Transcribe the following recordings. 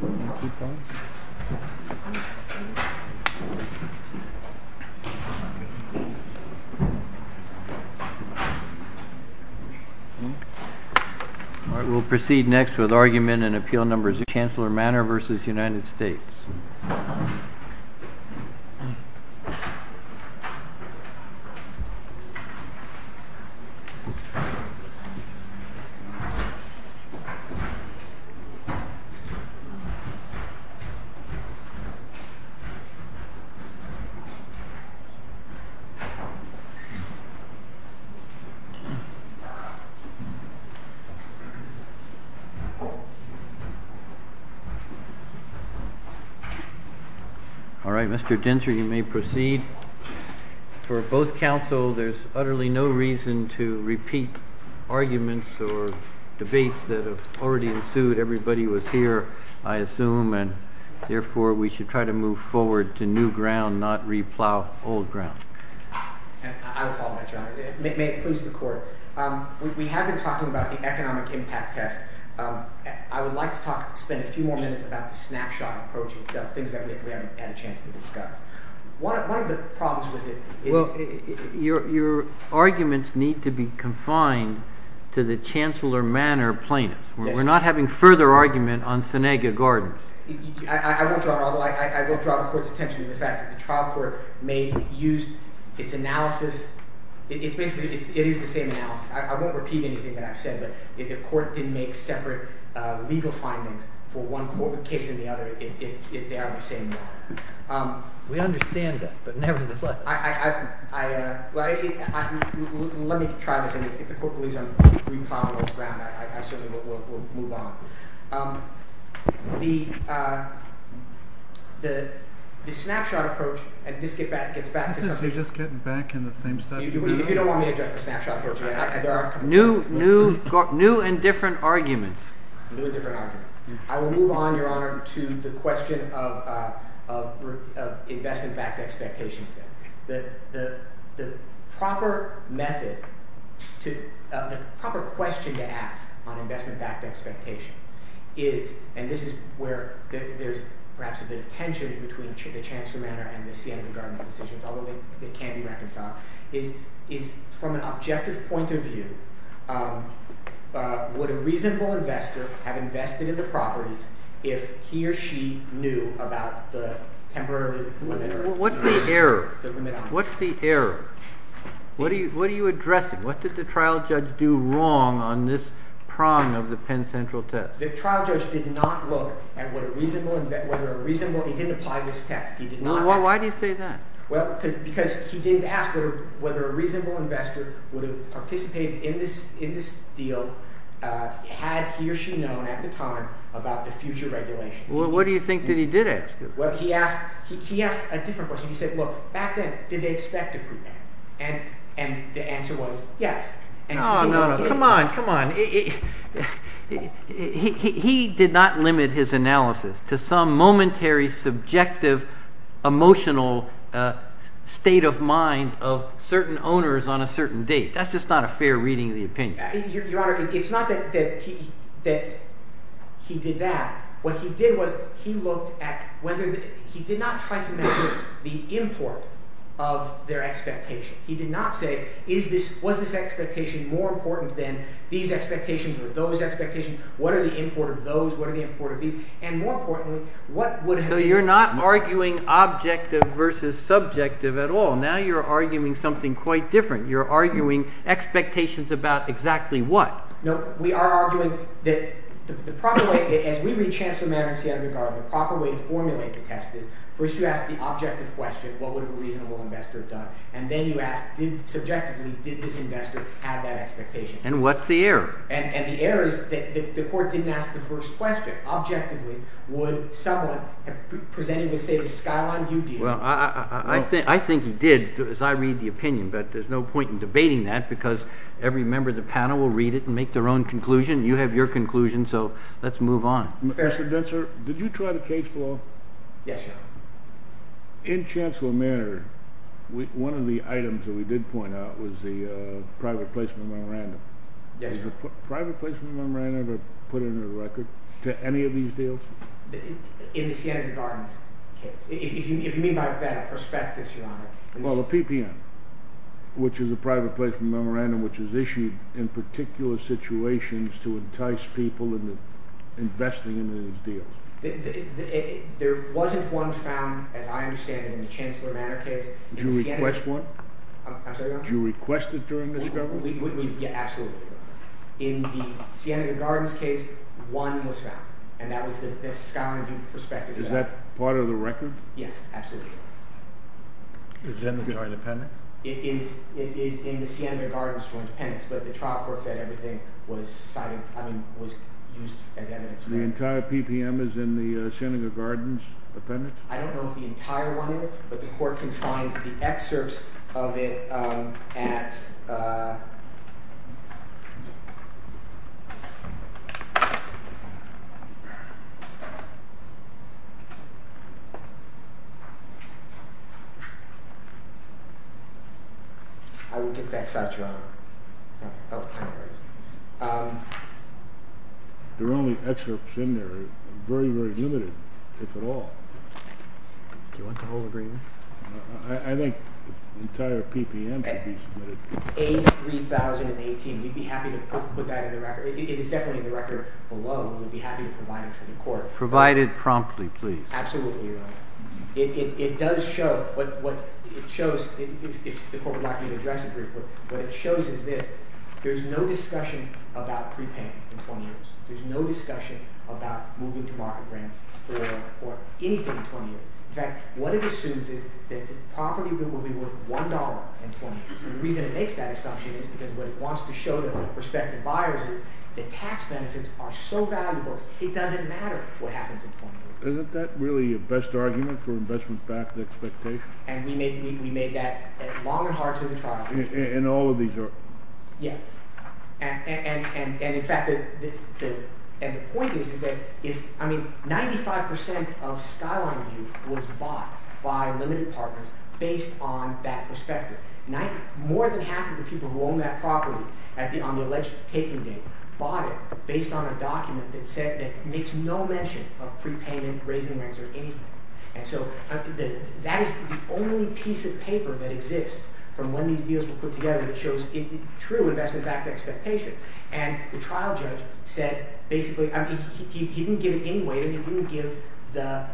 We will proceed next with argument in Appeal No. 2, Chancellor Manor v. United States. All right, Mr. Dentzer, you may proceed. For both councils, there is utterly no reason to repeat arguments or debates that have already I assume, and therefore we should try to move forward to new ground, not replow old ground. I will follow that, Your Honor. May it please the Court, we have been talking about the economic impact test. I would like to talk, spend a few more minutes about the snapshot approach itself, things that we haven't had a chance to discuss. One of the problems with it is... Your arguments need to be confined to the Chancellor Manor plaintiff. We're not having further argument on Seneca Gardens. I will draw the Court's attention to the fact that the trial court may use its analysis. It's basically, it is the same analysis. I won't repeat anything that I've said, but if the Court didn't make separate legal findings for one case and the other, they are the same. We understand that, but nevertheless... Well, let me try this, and if the Court believes I'm replowing old ground, I certainly will move on. The snapshot approach, and this gets back to something... Isn't she just getting back in the same step? If you don't want me to address the snapshot approach, there are... New and different arguments. New and different arguments. I will move on, Your Honor, to the question of investment-backed expectations. The proper method to... The proper question to ask on investment-backed expectation is... And this is where there's perhaps a bit of tension between the Chancellor Manor and the Seneca Gardens decisions, although they can be reconciled. From an objective point of view, would a reasonable investor have invested in the properties if he or she knew about the temporary limit? What's the error? What are you addressing? What did the trial judge do wrong on this prong of the Penn Central test? The trial judge did not look at whether a reasonable... He didn't apply this test. Why do you say that? Because he didn't ask whether a reasonable investor would have participated in this deal had he or she known at the time about the future regulations. Well, what do you think that he did ask? Well, he asked a different question. He said, look, back then, did they expect a pre-payment? And the answer was yes. Oh, no, no. Come on. Come on. He did not limit his analysis to some momentary, subjective, emotional state of mind of certain owners on a certain date. That's just not a fair reading of the opinion. Your Honor, it's not that he did that. What he did was he looked at whether the… He did not try to measure the import of their expectation. He did not say, was this expectation more important than these expectations or those expectations? What are the import of those? What are the import of these? And more importantly, what would have been… So you're not arguing objective versus subjective at all. Now you're arguing something quite different. You're arguing expectations about exactly what. No, we are arguing that the proper way, as we read Chancellor Mader and Seattle Regard, the proper way to formulate the test is first you ask the objective question. What would a reasonable investor have done? And then you ask, subjectively, did this investor have that expectation? And what's the error? And the error is that the court didn't ask the first question. Objectively, would someone presenting with, say, the skyline view deal? Well, I think he did as I read the opinion, but there's no point in debating that because every member of the panel will read it and make their own conclusion. You have your conclusion, so let's move on. Mr. Dentzer, did you try the case law? Yes, Your Honor. In Chancellor Mader, one of the items that we did point out was the private placement memorandum. Yes, Your Honor. Is the private placement memorandum ever put into the record to any of these deals? In the Seattle Regard case. If you mean by that a prospectus, Your Honor. Well, the PPN, which is a private placement memorandum which is issued in particular situations to entice people into investing in these deals. There wasn't one found, as I understand it, in the Chancellor Mader case. Did you request one? I'm sorry, Your Honor. Did you request it during the discovery? Yes, absolutely. In the Seattle Regard case, one was found, and that was the skyline view prospectus. Is that part of the record? Yes, absolutely. Is then the joint appendix? It is in the Seattle Regard's joint appendix, but the trial court said everything was cited, I mean, was used as evidence. The entire PPN is in the Shenandoah Gardens appendix? I don't know if the entire one is, but the court can find the excerpts of it at – I will get that side, Your Honor. There are only excerpts in there. Very, very limited, if at all. Do you want the whole agreement? I think the entire PPN could be submitted. A3018, we'd be happy to put that in the record. It is definitely in the record below, and we'd be happy to provide it to the court. Provided promptly, please. Absolutely, Your Honor. It does show – what it shows, if the court would like me to address it briefly – what it shows is this. There is no discussion about prepayment in 20 years. There is no discussion about moving to market grants or anything in 20 years. In fact, what it assumes is that the property will be worth $1 in 20 years. And the reason it makes that assumption is because what it wants to show the prospective buyers is that tax benefits are so valuable, it doesn't matter what happens in 20 years. Isn't that really your best argument for investment-backed expectations? And we made that long and hard to the trial. And all of these are? Yes. And, in fact, the point is that if – I mean, 95 percent of Skyline View was bought by limited partners based on that prospectus. More than half of the people who own that property on the alleged taking date bought it based on a document that said – that makes no mention of prepayment, raising rents, or anything. And so that is the only piece of paper that exists from when these deals were put together that shows true investment-backed expectation. And the trial judge said basically – I mean, he didn't give it anyway. He didn't give the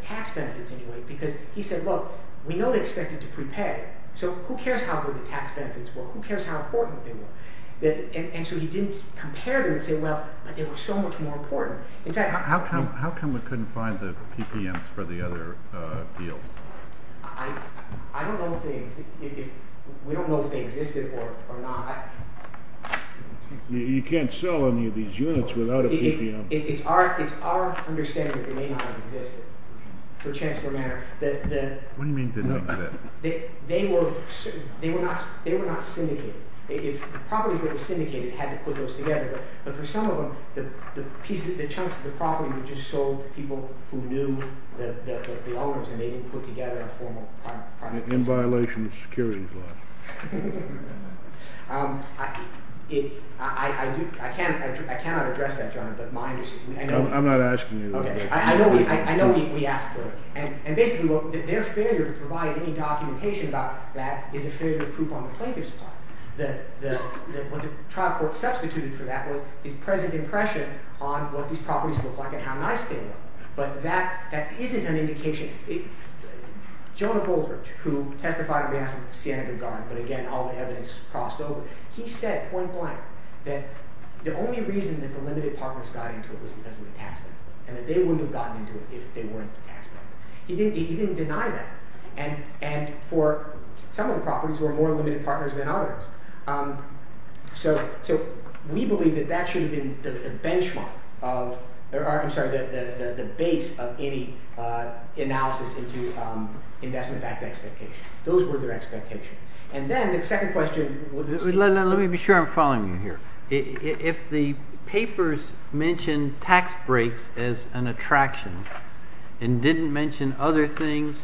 tax benefits anyway because he said, look, we know they expect it to prepay. So who cares how good the tax benefits were? Who cares how important they were? And so he didn't compare them and say, well, but they were so much more important. In fact – How come we couldn't find the PPMs for the other deals? I don't know if they – we don't know if they existed or not. You can't sell any of these units without a PPM. It's our understanding that they may not have existed for a chance for a matter that – What do you mean they didn't exist? They were not syndicated. The properties that were syndicated had to put those together. But for some of them, the chunks of the property were just sold to people who knew the owners, and they didn't put together a formal – In violation of securities law. I do – I cannot address that, Your Honor, but mine is – I'm not asking you to address it. I know we asked for it. And basically, their failure to provide any documentation about that is a failure of proof on the plaintiff's part. What the trial court substituted for that was his present impression on what these properties look like and how nice they look. But that isn't an indication. Jonah Goldberg, who testified on behalf of Siena Duggan, but again, all the evidence crossed over, he said point blank that the only reason that the limited partners got into it was because of the tax benefits and that they wouldn't have gotten into it if they weren't the tax benefit. He didn't deny that. And for some of the properties, there were more limited partners than others. So we believe that that should have been the benchmark of – I'm sorry, the base of any analysis into investment-backed expectation. Those were their expectations. And then the second question – Let me be sure I'm following you here. If the papers mentioned tax breaks as an attraction and didn't mention other things,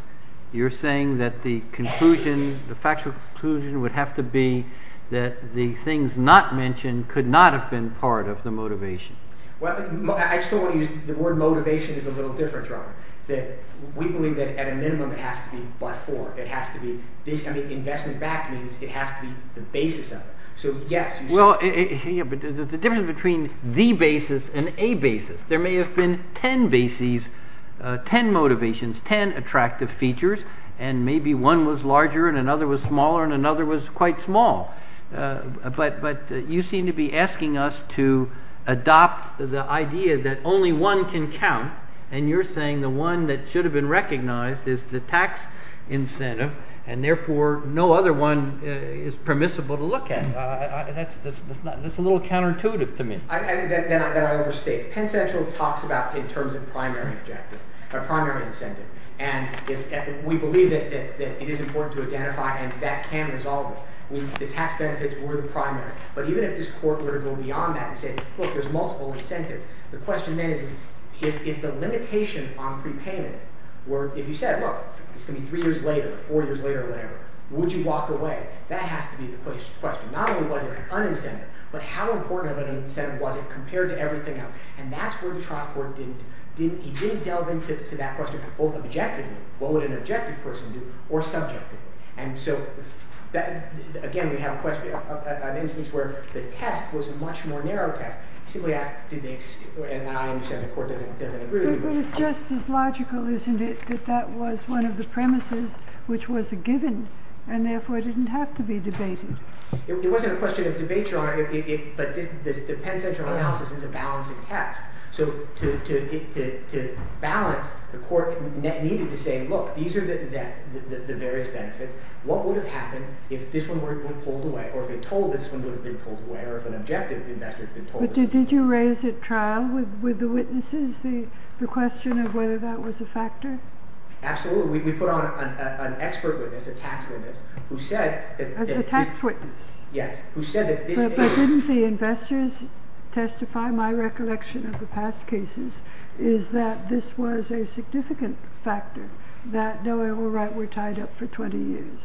you're saying that the conclusion, the factual conclusion would have to be that the things not mentioned could not have been part of the motivation. Well, I just don't want to use – the word motivation is a little different, Robert. We believe that at a minimum, it has to be but-for. It has to be – investment-backed means it has to be the basis of it. Well, the difference between the basis and a basis – there may have been ten bases, ten motivations, ten attractive features, and maybe one was larger and another was smaller and another was quite small. But you seem to be asking us to adopt the idea that only one can count, and you're saying the one that should have been recognized is the tax incentive, and therefore, no other one is permissible to look at. That's a little counterintuitive to me. Then I overstate. Penn Central talks about in terms of primary incentive. And we believe that it is important to identify and that can resolve it. The tax benefits were the primary. But even if this court were to go beyond that and say, look, there's multiple incentives, the question then is if the limitation on prepayment were – if you said, look, it's going to be three years later or four years later or whatever, would you walk away? That has to be the question. Not only was it an incentive, but how important of an incentive was it compared to everything else? And that's where the trial court didn't – he didn't delve into that question both objectively, what would an objective person do, or subjectively. And so, again, we have an instance where the test was a much more narrow test. And I understand the court doesn't agree with you. But it's just as logical, isn't it, that that was one of the premises which was a given and therefore didn't have to be debated. It wasn't a question of debate, Your Honor. But the Penn Central analysis is a balancing test. So to balance, the court needed to say, look, these are the various benefits. What would have happened if this one were pulled away, or if an objective investor had been told this one would have been pulled away? But did you raise at trial with the witnesses the question of whether that was a factor? Absolutely. We put on an expert witness, a tax witness, who said that this – A tax witness. Yes, who said that this – But didn't the investors testify? My recollection of the past cases is that this was a significant factor, that, no, we're right, we're tied up for 20 years,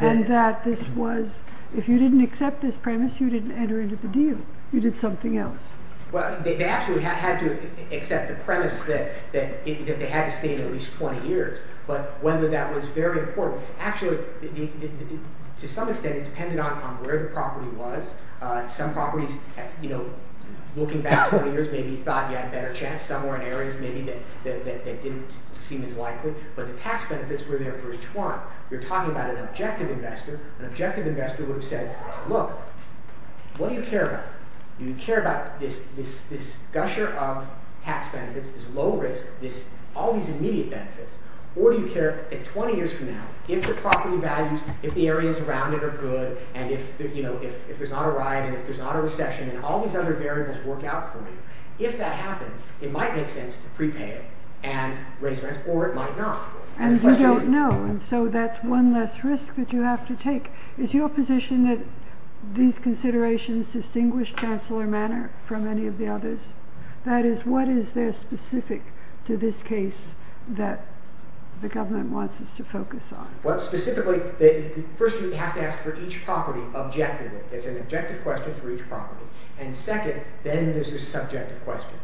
and that this was – if you didn't accept this premise, you didn't enter into the deal. You did something else. Well, they absolutely had to accept the premise that they had to stay at least 20 years. But whether that was very important – actually, to some extent, it depended on where the property was. Some properties, looking back 20 years, maybe you thought you had a better chance. Some were in areas maybe that didn't seem as likely. But the tax benefits were there for each one. You're talking about an objective investor. An objective investor would have said, look, what do you care about? Do you care about this gusher of tax benefits, this low risk, all these immediate benefits, or do you care that 20 years from now, if the property values, if the areas around it are good, and if there's not a riot and if there's not a recession and all these other variables work out for you, if that happens, it might make sense to prepay it and raise rents, or it might not. And you don't know, and so that's one less risk that you have to take. Is your position that these considerations distinguish Chancellor Manor from any of the others? That is, what is there specific to this case that the government wants us to focus on? Well, specifically, first, you have to ask for each property objectively. It's an objective question for each property. And second, then there's the subjective question.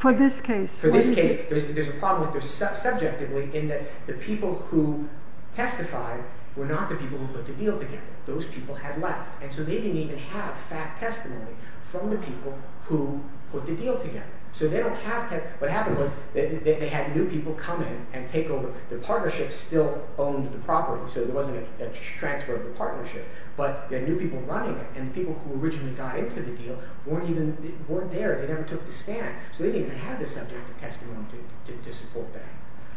For this case? For this case, there's a problem subjectively in that the people who testified were not the people who put the deal together. Those people had left, and so they didn't even have fact testimony from the people who put the deal together. So they don't have – what happened was they had new people come in and take over. Their partnership still owned the property, so there wasn't a transfer of the partnership, but there were new people running it, and the people who originally got into the deal weren't there. They never took the stand, so they didn't even have the subject of testimony to support that.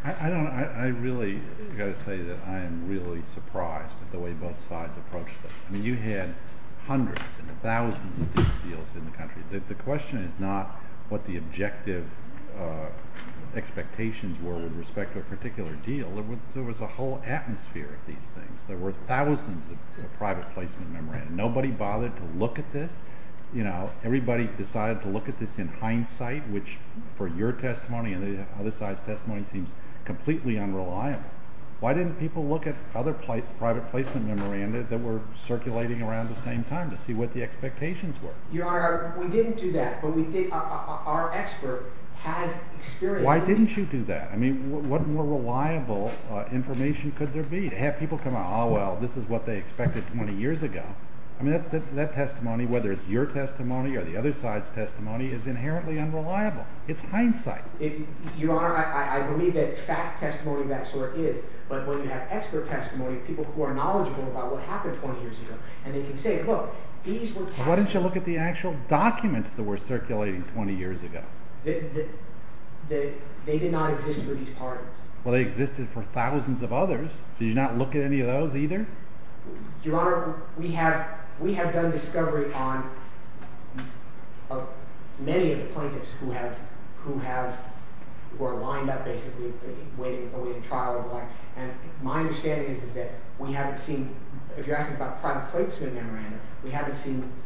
I really got to say that I am really surprised at the way both sides approached this. I mean you had hundreds and thousands of these deals in the country. The question is not what the objective expectations were with respect to a particular deal. There was a whole atmosphere of these things. There were thousands of private placement memoranda. Nobody bothered to look at this. Everybody decided to look at this in hindsight, which for your testimony and the other side's testimony seems completely unreliable. Why didn't people look at other private placement memoranda that were circulating around the same time to see what the expectations were? Your Honor, we didn't do that, but we did – our expert has experience. Why didn't you do that? I mean what more reliable information could there be? To have people come out, oh, well, this is what they expected 20 years ago. I mean that testimony, whether it's your testimony or the other side's testimony, is inherently unreliable. It's hindsight. Your Honor, I believe that fact testimony of that sort is, but when you have expert testimony, people who are knowledgeable about what happened 20 years ago, and they can say, look, these were tax dollars. Why didn't you look at the actual documents that were circulating 20 years ago? They did not exist for these parties. Well, they existed for thousands of others. Did you not look at any of those either? Your Honor, we have done discovery on many of the plaintiffs who have – who are lined up basically waiting to go into trial. And my understanding is that we haven't seen – if you're asking about private placement memoranda, we haven't seen –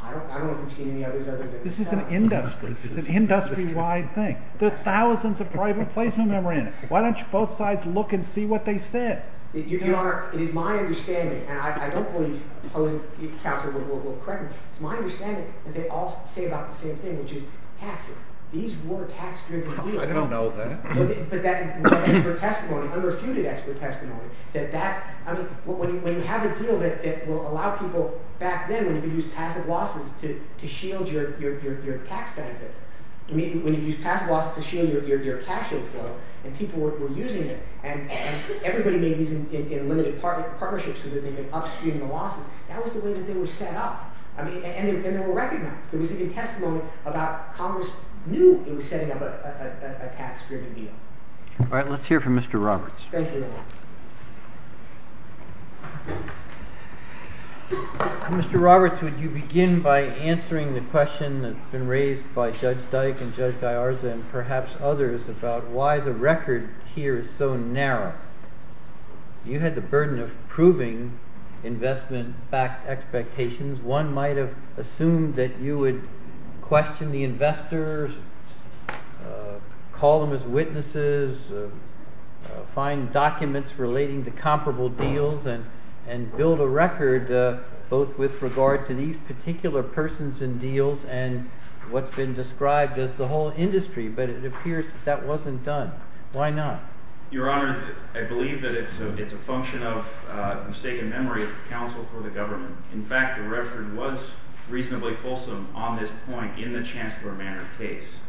I don't know if you've seen any others other than this. This is an industry. It's an industry-wide thing. There are thousands of private placement memoranda. Why don't you both sides look and see what they said? Your Honor, it is my understanding, and I don't believe the counselor will correct me. It's my understanding that they all say about the same thing, which is taxes. These were tax-driven deals. I don't know that. But that expert testimony, unrefuted expert testimony, that that's – I mean when you have a deal that will allow people back then, you could use passive losses to shield your tax benefits. I mean when you use passive losses to shield your cash inflow and people were using it, and everybody made these in limited partnerships so that they could upstream the losses. That was the way that they were set up, and they were recognized. There was even testimony about Congress knew it was setting up a tax-driven deal. All right. Thank you, Your Honor. Mr. Roberts, would you begin by answering the question that's been raised by Judge Dyke and Judge Gallarza and perhaps others about why the record here is so narrow? You had the burden of proving investment-backed expectations. One might have assumed that you would question the investors, call them as witnesses, find documents relating to comparable deals, and build a record both with regard to these particular persons in deals and what's been described as the whole industry. But it appears that that wasn't done. Why not? Your Honor, I believe that it's a function of mistaken memory of counsel for the government. In fact, the record was reasonably fulsome on this point in the Chancellor Manor case.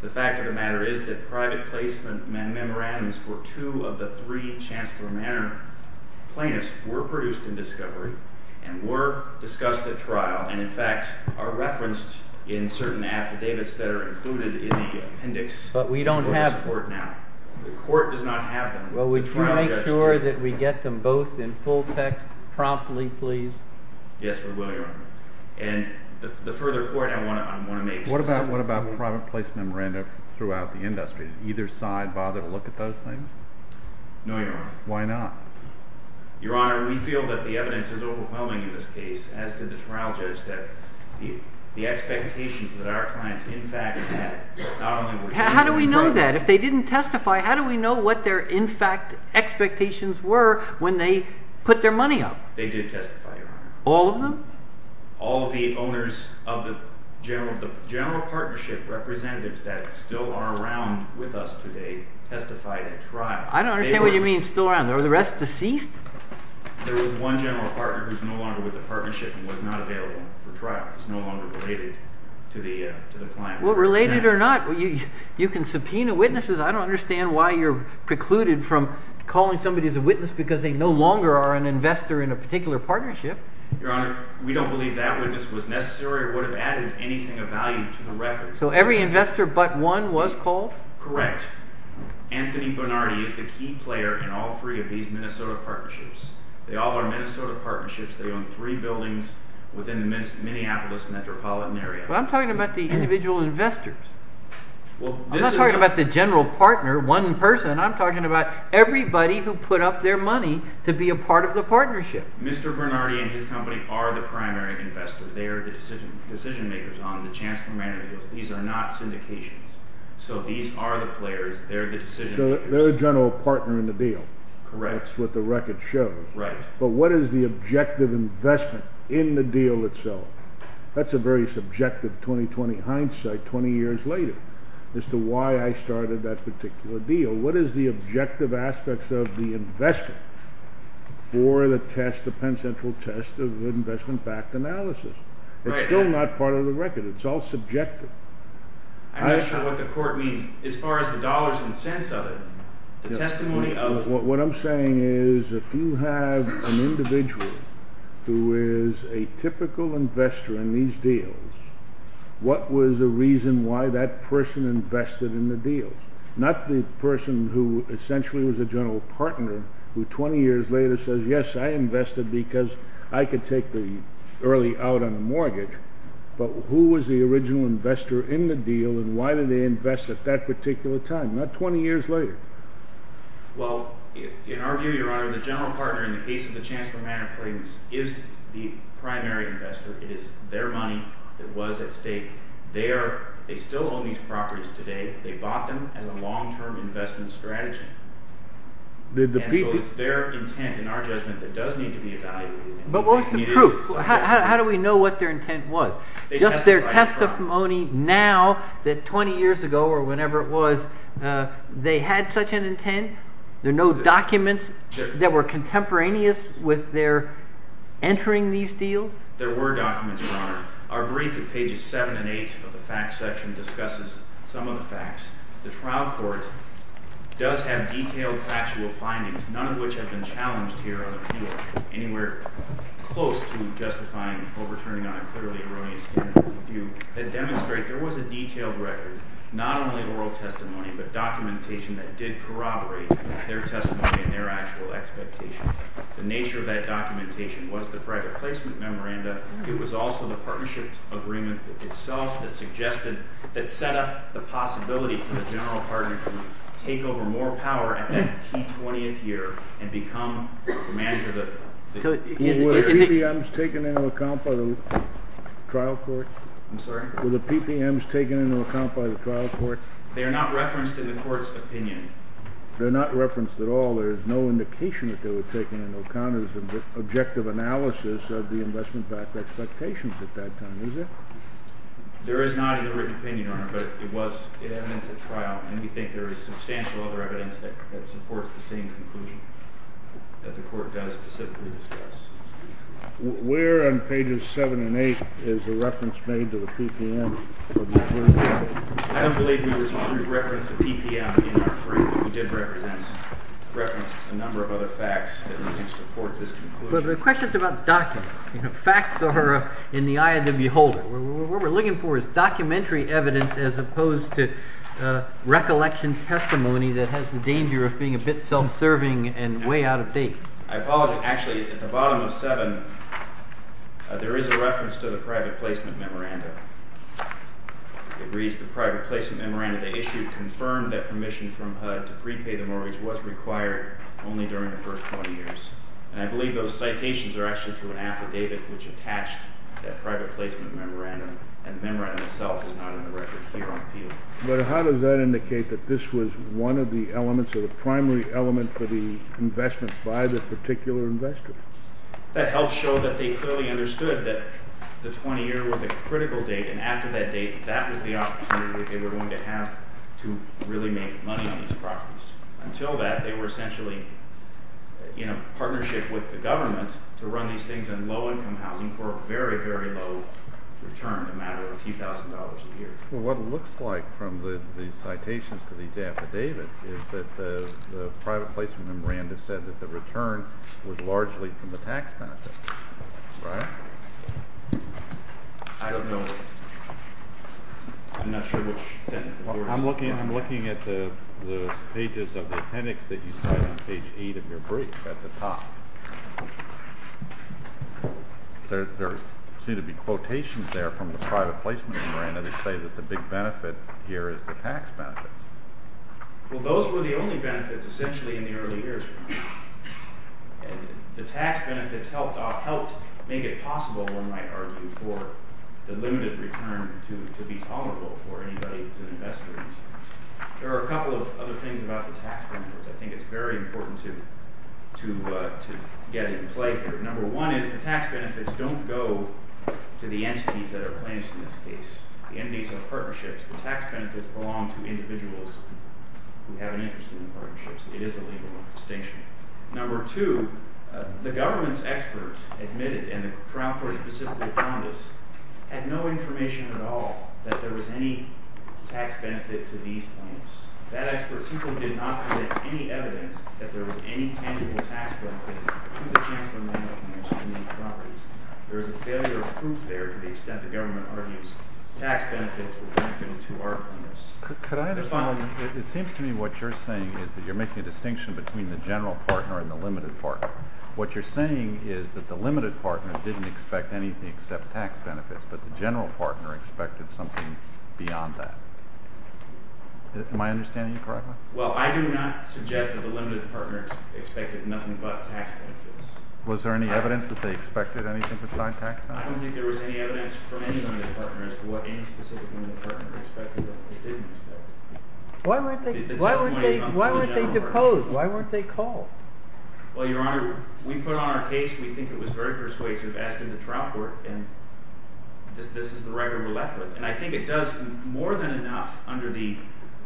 The fact of the matter is that private placement memorandums for two of the three Chancellor Manor plaintiffs were produced in discovery and were discussed at trial and, in fact, are referenced in certain affidavits that are included in the appendix. But we don't have them. The court does not have them. Well, would you make sure that we get them both in full text promptly, please? Yes, we will, Your Honor. And the further court, I want to make specific comments. What about private place memorandum throughout the industry? Did either side bother to look at those things? No, Your Honor. Why not? Your Honor, we feel that the evidence is overwhelming in this case, as did the trial judge, that the expectations that our clients, in fact, had not only were shamed in the program. How do we know that? If they didn't testify, how do we know what their, in fact, expectations were when they put their money up? They did testify, Your Honor. All of them? All of the owners of the general partnership representatives that still are around with us today testified at trial. I don't understand what you mean, still around. Were the rest deceased? There was one general partner who's no longer with the partnership and was not available for trial. He's no longer related to the client. Well, related or not, you can subpoena witnesses. I don't understand why you're precluded from calling somebody as a witness because they no longer are an investor in a particular partnership. Your Honor, we don't believe that witness was necessary or would have added anything of value to the record. So every investor but one was called? Correct. Anthony Bernardi is the key player in all three of these Minnesota partnerships. They all are Minnesota partnerships. They own three buildings within the Minneapolis metropolitan area. But I'm talking about the individual investors. I'm not talking about the general partner, one person. I'm talking about everybody who put up their money to be a part of the partnership. Mr. Bernardi and his company are the primary investor. They are the decision makers on the Chancellor-Manager deals. These are not syndications. So these are the players. They're the decision makers. So they're the general partner in the deal. Correct. That's what the record shows. Right. But what is the objective investment in the deal itself? That's a very subjective 20-20 hindsight 20 years later as to why I started that particular deal. What is the objective aspects of the investment for the test, the Penn Central test of investment-backed analysis? Right. It's still not part of the record. It's all subjective. I'm not sure what the court means. As far as the dollars and cents of it, the testimony of— What I'm saying is if you have an individual who is a typical investor in these deals, what was the reason why that person invested in the deals? Not the person who essentially was a general partner who 20 years later says, Yes, I invested because I could take the early out on the mortgage. But who was the original investor in the deal and why did they invest at that particular time? Not 20 years later. Well, in our view, Your Honor, the general partner in the case of the Chancellor Manner claims is the primary investor. It is their money that was at stake. They still own these properties today. They bought them as a long-term investment strategy. And so it's their intent, in our judgment, that does need to be evaluated. But what's the proof? How do we know what their intent was? Just their testimony now that 20 years ago or whenever it was, they had such an intent? There are no documents that were contemporaneous with their entering these deals? There were documents, Your Honor. Our brief at pages 7 and 8 of the facts section discusses some of the facts. The trial court does have detailed factual findings, none of which have been challenged here on the appeal, anywhere close to justifying overturning on a clearly erroneous standpoint. A few that demonstrate there was a detailed record, not only oral testimony, but documentation that did corroborate their testimony and their actual expectations. The nature of that documentation was the private placement memoranda. It was also the partnership agreement itself that suggested, that set up the possibility for the general partner to take over more power at that key 20th year and become the manager of the PPM. Were the PPMs taken into account by the trial court? I'm sorry? Were the PPMs taken into account by the trial court? They are not referenced in the court's opinion. They're not referenced at all. There's no indication that they were taken into account. It was an objective analysis of the investment backed expectations at that time, is there? There is not a written opinion on it, but it was evidence at trial, and we think there is substantial other evidence that supports the same conclusion that the court does specifically discuss. Where on pages 7 and 8 is the reference made to the PPM? I don't believe we referenced the PPM in our brief. We did reference a number of other facts that we think support this conclusion. But the question's about documents. Facts are in the eye of the beholder. What we're looking for is documentary evidence as opposed to recollection testimony that has the danger of being a bit self-serving and way out of date. I apologize. Actually, at the bottom of 7, there is a reference to the private placement memoranda. It reads, the private placement memoranda they issued confirmed that permission from HUD to prepay the mortgage was required only during the first 20 years. And I believe those citations are actually to an affidavit which attached that private placement memoranda, and the memoranda itself is not on the record here on appeal. But how does that indicate that this was one of the elements or the primary element for the investment by the particular investor? That helps show that they clearly understood that the 20-year was a critical date, and after that date, that was the opportunity that they were going to have to really make money on these properties. Until that, they were essentially in a partnership with the government to run these things in low-income housing for a very, very low return, a matter of a few thousand dollars a year. Well, what it looks like from the citations to these affidavits is that the private placement memoranda said that the return was largely from the tax benefit. Right? I don't know. I'm not sure which sentence. I'm looking at the pages of the appendix that you cite on page 8 of your brief at the top. There seem to be quotations there from the private placement memoranda that say that the big benefit here is the tax benefit. Well, those were the only benefits essentially in the early years. The tax benefits helped make it possible, one might argue, for the limited return to be tolerable for anybody who's an investor in these things. There are a couple of other things about the tax benefits. I think it's very important to get in play here. Number one is the tax benefits don't go to the entities that are plaintiffs in this case. The entities are partnerships. The tax benefits belong to individuals who have an interest in partnerships. It is a legal distinction. Number two, the government's experts admitted, and the trial court specifically found this, had no information at all that there was any tax benefit to these plaintiffs. That expert simply did not present any evidence that there was any tangible tax benefit to the Chancellor of the American Institute of Properties. There is a failure of proof there to the extent the government argues tax benefits were benefited to our plaintiffs. Could I understand? It seems to me what you're saying is that you're making a distinction between the general partner and the limited partner. What you're saying is that the limited partner didn't expect anything except tax benefits, but the general partner expected something beyond that. Am I understanding you correctly? Well, I do not suggest that the limited partner expected nothing but tax benefits. Was there any evidence that they expected anything besides tax benefits? I don't think there was any evidence from any of the partners to what any specific limit partner expected that they didn't expect. Why weren't they decoded? Why weren't they called? Well, Your Honor, we put on our case, we think it was very persuasive, as did the trial court, and this is the record we're left with. And I think it does more than enough under the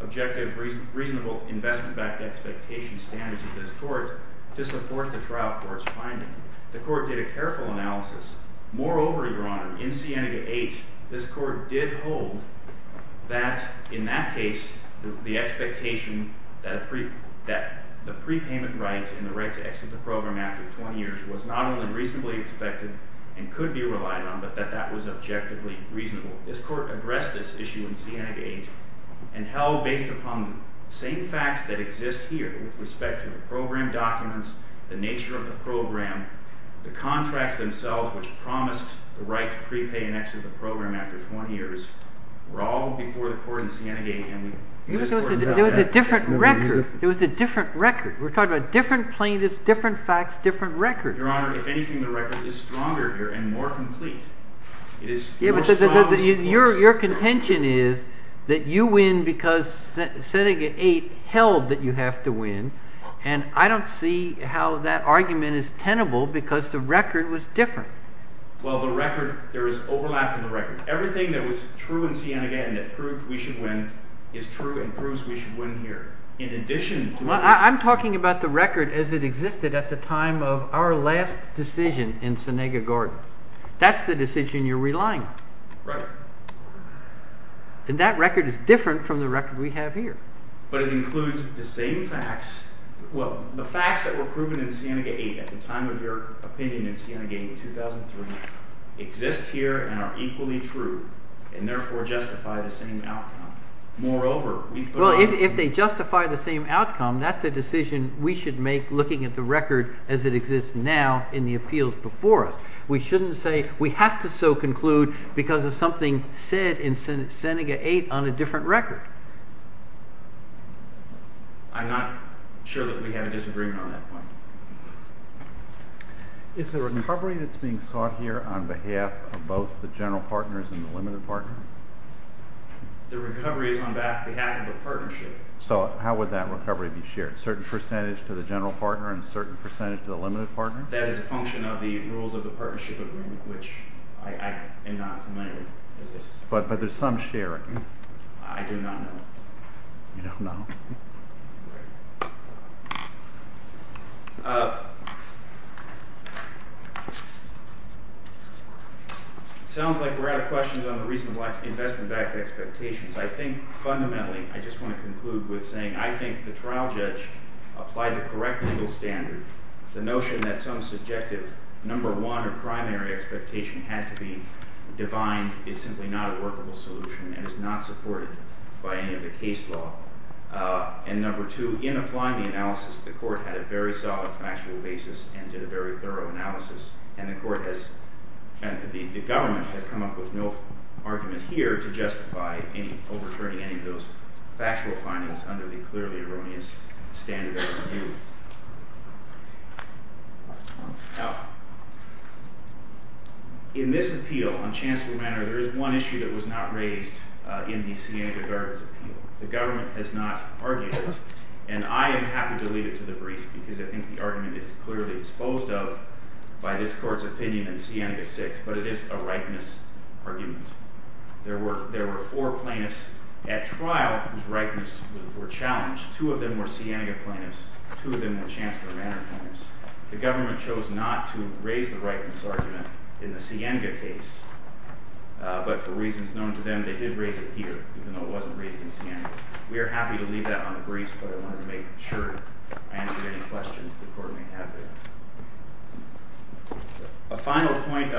objective, reasonable investment-backed expectation standards of this court to support the trial court's finding. The court did a careful analysis. Moreover, Your Honor, in Sienega 8, this court did hold that in that case the expectation that the prepayment right and the right to exit the program after 20 years was not only reasonably expected and could be relied on, but that that was objectively reasonable. This court addressed this issue in Sienega 8 and held based upon the same facts that exist here with respect to the program documents, the nature of the program, the contracts themselves which promised the right to prepay and exit the program after 20 years were all before the court in Sienega 8. It was a different record. We're talking about different plaintiffs, different facts, different records. Your Honor, if anything, the record is stronger here and more complete. Your contention is that you win because Sienega 8 held that you have to win, and I don't see how that argument is tenable because the record was different. Well, the record, there is overlap in the record. Everything that was true in Sienega 8 that proved we should win is true and proves we should win here. I'm talking about the record as it existed at the time of our last decision in Sienega Gardens. That's the decision you're relying on. Right. And that record is different from the record we have here. But it includes the same facts. Well, the facts that were proven in Sienega 8 at the time of your opinion in Sienega 8 in 2003 exist here and are equally true and, therefore, justify the same outcome. Moreover, we put it on the record. Well, if they justify the same outcome, that's a decision we should make looking at the record as it exists now in the appeals before us. We shouldn't say we have to so conclude because of something said in Sienega 8 on a different record. I'm not sure that we have a disagreement on that point. Is the recovery that's being sought here on behalf of both the general partners and the limited partner? The recovery is on behalf of the partnership. So how would that recovery be shared, a certain percentage to the general partner and a certain percentage to the limited partner? That is a function of the rules of the partnership agreement, which I am not familiar with. But there's some sharing. I do not know. You don't know? It sounds like we're out of questions on the reason why investment-backed expectations. I think fundamentally I just want to conclude with saying I think the trial judge applied the correct legal standard. The notion that some subjective number one or primary expectation had to be defined is simply not a workable solution and is not supported by any of the case law. And number two, in applying the analysis, the court had a very solid factual basis and did a very thorough analysis. And the government has come up with no argument here to justify overturning any of those factual findings under the clearly erroneous standard of review. Now, in this appeal on Chancellor Renner, there is one issue that was not raised in the Sienega Gardens appeal. The government has not argued it, and I am happy to leave it to the brief, because I think the argument is clearly exposed of by this court's opinion in Sienega 6, but it is a rightness argument. There were four plaintiffs at trial whose rightness were challenged. Two of them were Sienega plaintiffs, two of them were Chancellor Renner plaintiffs. The government chose not to raise the rightness argument in the Sienega case, but for reasons known to them, they did raise it here, even though it wasn't raised in Sienega. We are happy to leave that on the briefs, but I wanted to make sure I answered any questions the court may have there. A final point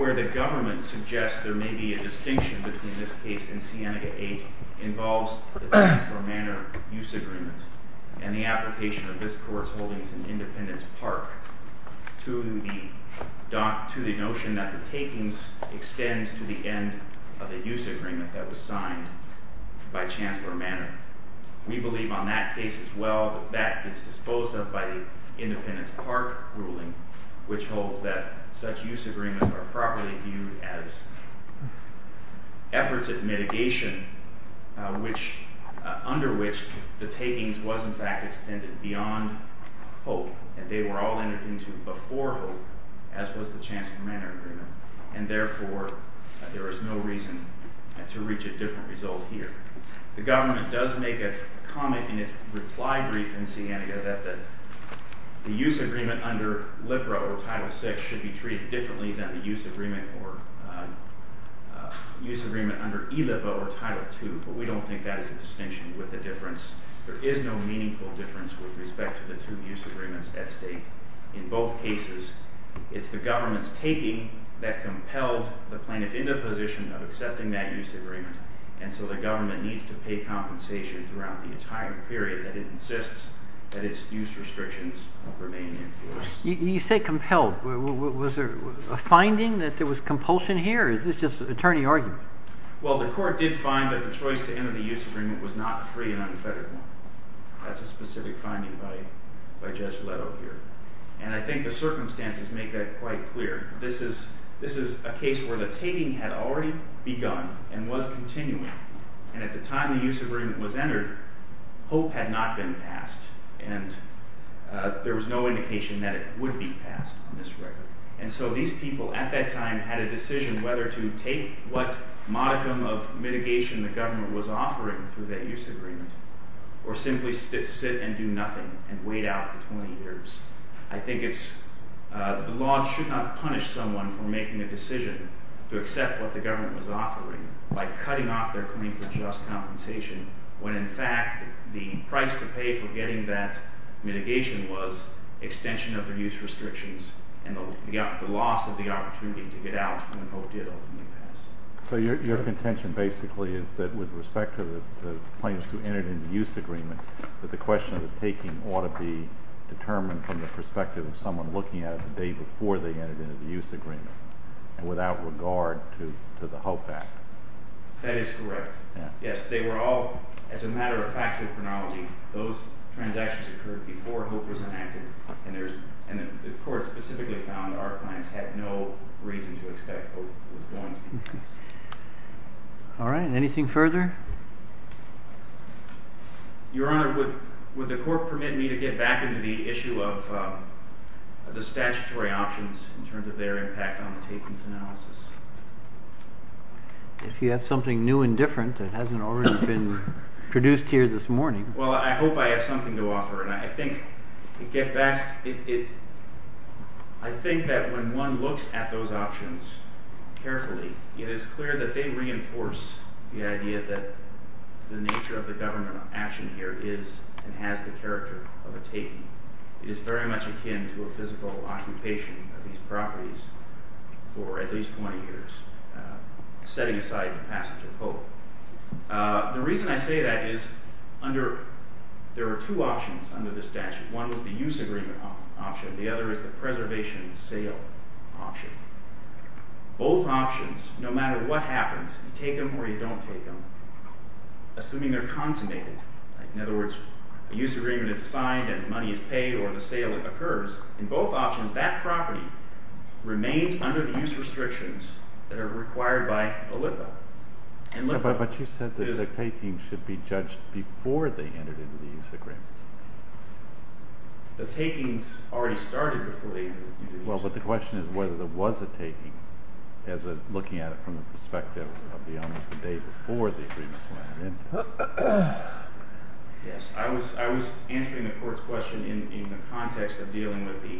where the government suggests there may be a distinction between this case and Sienega 8 involves the Chancellor Manor use agreement and the application of this court's holdings in Independence Park to the notion that the takings extends to the end of the use agreement that was signed by Chancellor Manor. We believe on that case as well that that is disposed of by the Independence Park ruling, which holds that such use agreements are properly viewed as efforts at mitigation, under which the takings was in fact extended beyond hope, and they were all entered into before hope, as was the Chancellor Manor agreement, and therefore there is no reason to reach a different result here. The government does make a comment in its reply brief in Sienega that the use agreement under LIPRA or Title VI should be treated differently than the use agreement under E-LIPA or Title II, but we don't think that is a distinction with a difference. There is no meaningful difference with respect to the two use agreements at stake in both cases. It's the government's taking that compelled the plaintiff into the position of accepting that use agreement, and so the government needs to pay compensation throughout the entire period that it insists that its use restrictions remain in force. You say compelled. Was there a finding that there was compulsion here, or is this just attorney argument? Well, the court did find that the choice to enter the use agreement was not free and unfettered one. That's a specific finding by Judge Leto here, and I think the circumstances make that quite clear. This is a case where the taking had already begun and was continuing, and at the time the use agreement was entered, hope had not been passed, and there was no indication that it would be passed on this record, and so these people at that time had a decision whether to take what modicum of mitigation the government was offering through that use agreement or simply sit and do nothing and wait out the 20 years. I think the law should not punish someone for making a decision to accept what the government was offering by cutting off their claim for just compensation when, in fact, the price to pay for getting that mitigation was extension of their use restrictions and the loss of the opportunity to get out when hope did ultimately pass. So your contention basically is that with respect to the plaintiffs who entered into use agreements, that the question of the taking ought to be determined from the perspective of someone looking at it the day before they entered into the use agreement and without regard to the HOPE Act. That is correct. Yes, they were all, as a matter of factual chronology, those transactions occurred before HOPE was enacted, and the court specifically found that our clients had no reason to expect HOPE was going to be passed. All right. Anything further? Your Honor, would the court permit me to get back into the issue of the statutory options in terms of their impact on the takings analysis? If you have something new and different that hasn't already been produced here this morning. Well, I hope I have something to offer. I think that when one looks at those options carefully, it is clear that they reinforce the idea that the nature of the government action here is and has the character of a taking. It is very much akin to a physical occupation of these properties for at least 20 years, setting aside the passage of HOPE. The reason I say that is there are two options under the statute. One was the use agreement option. The other is the preservation sale option. Both options, no matter what happens, you take them or you don't take them, assuming they're consummated. In other words, a use agreement is signed and money is paid or the sale occurs. In both options, that property remains under the use restrictions that are required by OLIPA. But you said that the takings should be judged before they entered into the use agreements. Well, but the question is whether there was a taking looking at it from the perspective of the owners the day before the agreements went into it. Yes, I was answering the Court's question in the context of dealing with the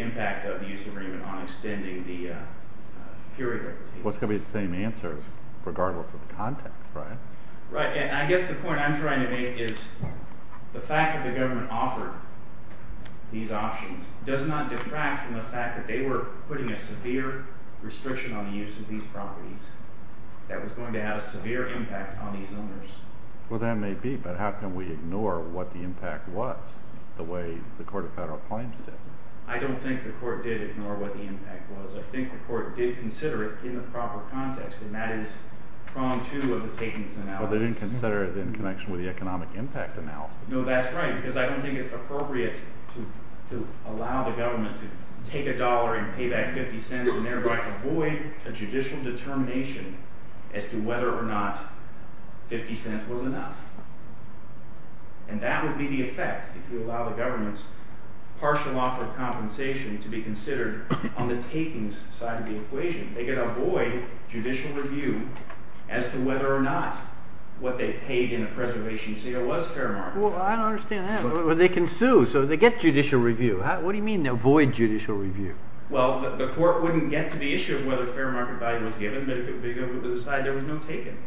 impact of the use agreement on extending the period of the taking. Well, it's going to be the same answers regardless of the context, right? Right, and I guess the point I'm trying to make is the fact that the government offered these options does not detract from the fact that they were putting a severe restriction on the use of these properties that was going to have a severe impact on these owners. Well, that may be, but how can we ignore what the impact was the way the Court of Federal Claims did? I don't think the Court did ignore what the impact was. I think the Court did consider it in the proper context, and that is prong two of the takings analysis. Well, they didn't consider it in connection with the economic impact analysis. No, that's right, because I don't think it's appropriate to allow the government to take a dollar and pay back 50 cents and thereby avoid a judicial determination as to whether or not 50 cents was enough. And that would be the effect if you allow the government's partial offer of compensation to be considered on the takings side of the equation. They can avoid judicial review as to whether or not what they paid in a preservation sale was fair market value. Well, I don't understand that. Well, they can sue, so they get judicial review. What do you mean avoid judicial review? Well, the Court wouldn't get to the issue of whether fair market value was given, but if it was decided, there was no taking.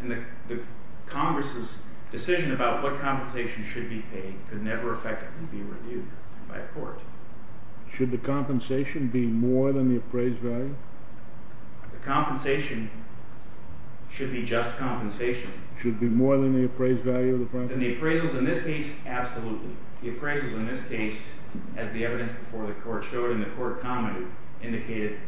And the Congress's decision about what compensation should be paid could never effectively be reviewed by a court. Should the compensation be more than the appraised value? The compensation should be just compensation. Should it be more than the appraised value of the process? Than the appraisals in this case, absolutely. The appraisals in this case, as the evidence before the Court showed and the Court commented, indicated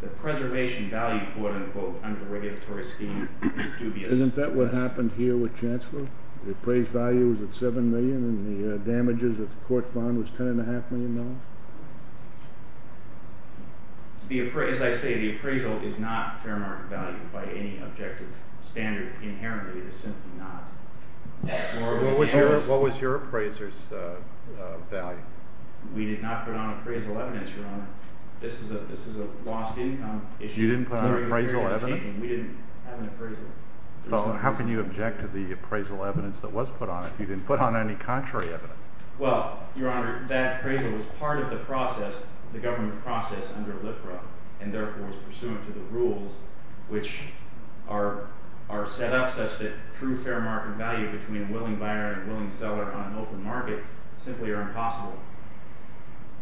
the preservation value, quote-unquote, under the regulatory scheme is dubious. Isn't that what happened here with Chancellor? The appraised value was at $7 million, and the damages that the Court found was $10.5 million? As I say, the appraisal is not fair market value by any objective standard. Inherently, it is simply not. What was your appraiser's value? We did not put on appraisal evidence, Your Honor. This is a lost income issue. You didn't put on appraisal evidence? We didn't have an appraisal. How can you object to the appraisal evidence that was put on it if you didn't put on any contrary evidence? Well, Your Honor, that appraisal was part of the process, the government process, under LIFRA, and therefore is pursuant to the rules which are set up such that true fair market value between a willing buyer and a willing seller on an open market simply are impossible.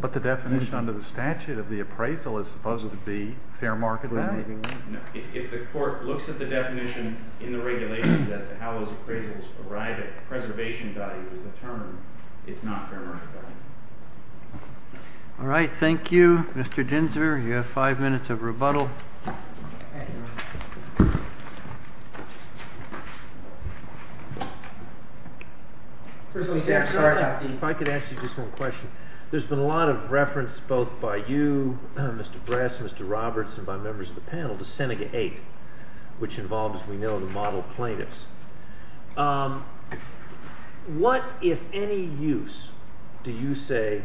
But the definition under the statute of the appraisal is supposed to be fair market value? No. If the Court looks at the definition in the regulations as to how those appraisals arrive at preservation value as the term, it's not fair market value. All right. Thank you, Mr. Ginzburg. You have five minutes of rebuttal. If I could ask you just one question. There's been a lot of reference both by you, Mr. Bress, Mr. Roberts, and by members of the panel to Senega 8, which involves, as we know, the model plaintiffs. What, if any, use do you say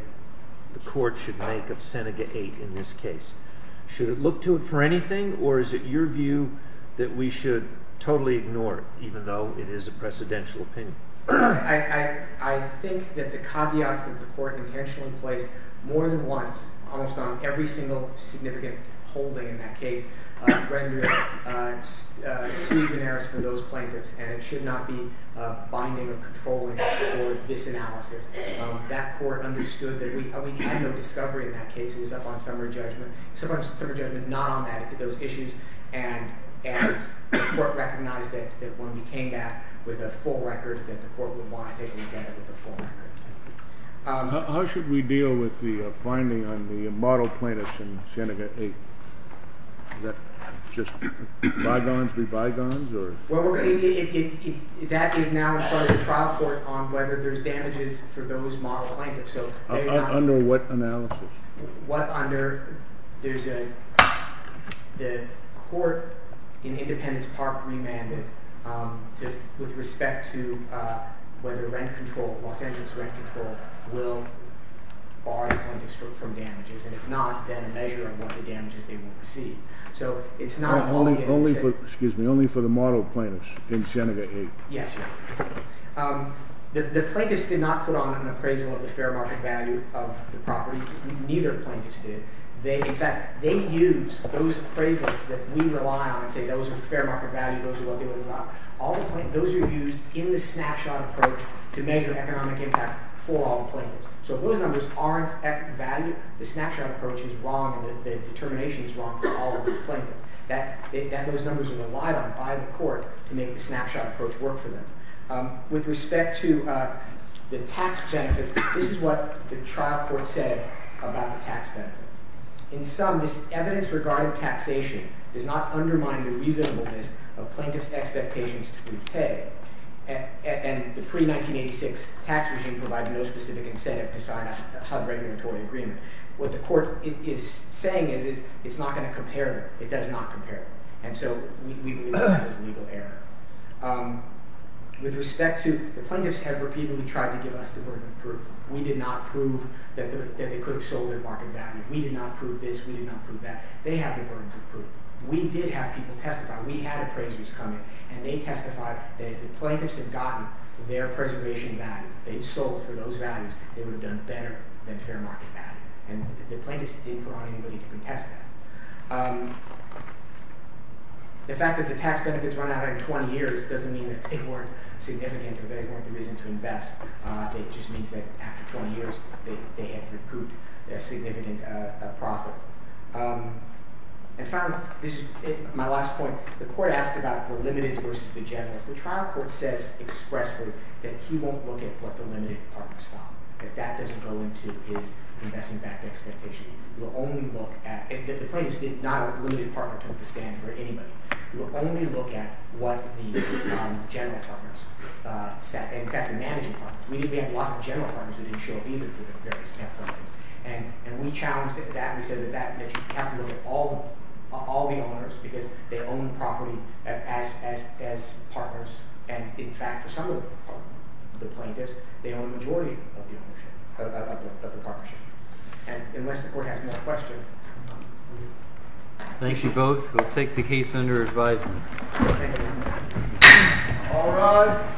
the Court should make of Senega 8 in this case? Should it look to it for anything, or is it your view that we should totally ignore it, even though it is a precedential opinion? I think that the caveats that the Court intentionally placed more than once, almost on every single significant holding in that case, rendered it sui generis for those plaintiffs, and it should not be binding or controlling for this analysis. That Court understood that we had no discovery in that case. It was up on summary judgment. It was up on summary judgment, not on those issues. And the Court recognized that when we came back with a full record, that the Court would want to take it again with a full record. How should we deal with the finding on the model plaintiffs in Senega 8? Is that just bygones be bygones? Well, that is now a trial court on whether there's damages for those model plaintiffs. Under what analysis? What under – there's a – the Court in Independence Park remanded with respect to whether rent control, Los Angeles rent control, will bar the plaintiffs from damages, and if not, then a measure of what the damages they will receive. So it's not only – Excuse me, only for the model plaintiffs in Senega 8? Yes, sir. The plaintiffs did not put on an appraisal of the fair market value of the property. Neither plaintiffs did. In fact, they use those appraisals that we rely on and say those are fair market value, those are what they want to buy. All the plaintiffs – those are used in the snapshot approach to measure economic impact for all the plaintiffs. So if those numbers aren't valued, the snapshot approach is wrong and the determination is wrong for all of those plaintiffs. Those numbers are relied on by the court to make the snapshot approach work for them. With respect to the tax benefits, this is what the trial court said about the tax benefits. In sum, this evidence regarding taxation does not undermine the reasonableness of plaintiffs' expectations to repay. And the pre-1986 tax regime provided no specific incentive to sign a HUD regulatory agreement. What the court is saying is it's not going to compare them. It does not compare them. And so we believe that is legal error. With respect to the plaintiffs, there were people who tried to give us the burden of proof. We did not prove that they could have sold their market value. We did not prove this. We did not prove that. They have the burden of proof. We did have people testify. We had appraisers come in and they testified that if the plaintiffs had gotten their preservation value, if they had sold for those values, they would have done better than fair market value. And the plaintiffs didn't put on anybody to contest that. The fact that the tax benefits run out after 20 years doesn't mean that they weren't significant or they weren't the reason to invest. It just means that after 20 years, they had recouped a significant profit. And finally, this is my last point. The court asked about the limited versus the general. The trial court says expressly that he won't look at what the limited partners thought. That that doesn't go into his investment-backed expectations. We'll only look at – the plaintiffs did not have a limited partner to stand for anybody. We will only look at what the general partners said. In fact, the managing partners. We did have lots of general partners who didn't show up either for the various templates. And we challenged that. We said that you have to look at all the owners because they own the property as partners. And in fact, for some of the plaintiffs, they own the majority of the ownership – of the partnership. And unless the court has more questions, we will. Thank you both. We'll take the case under advisement. Thank you. All rise.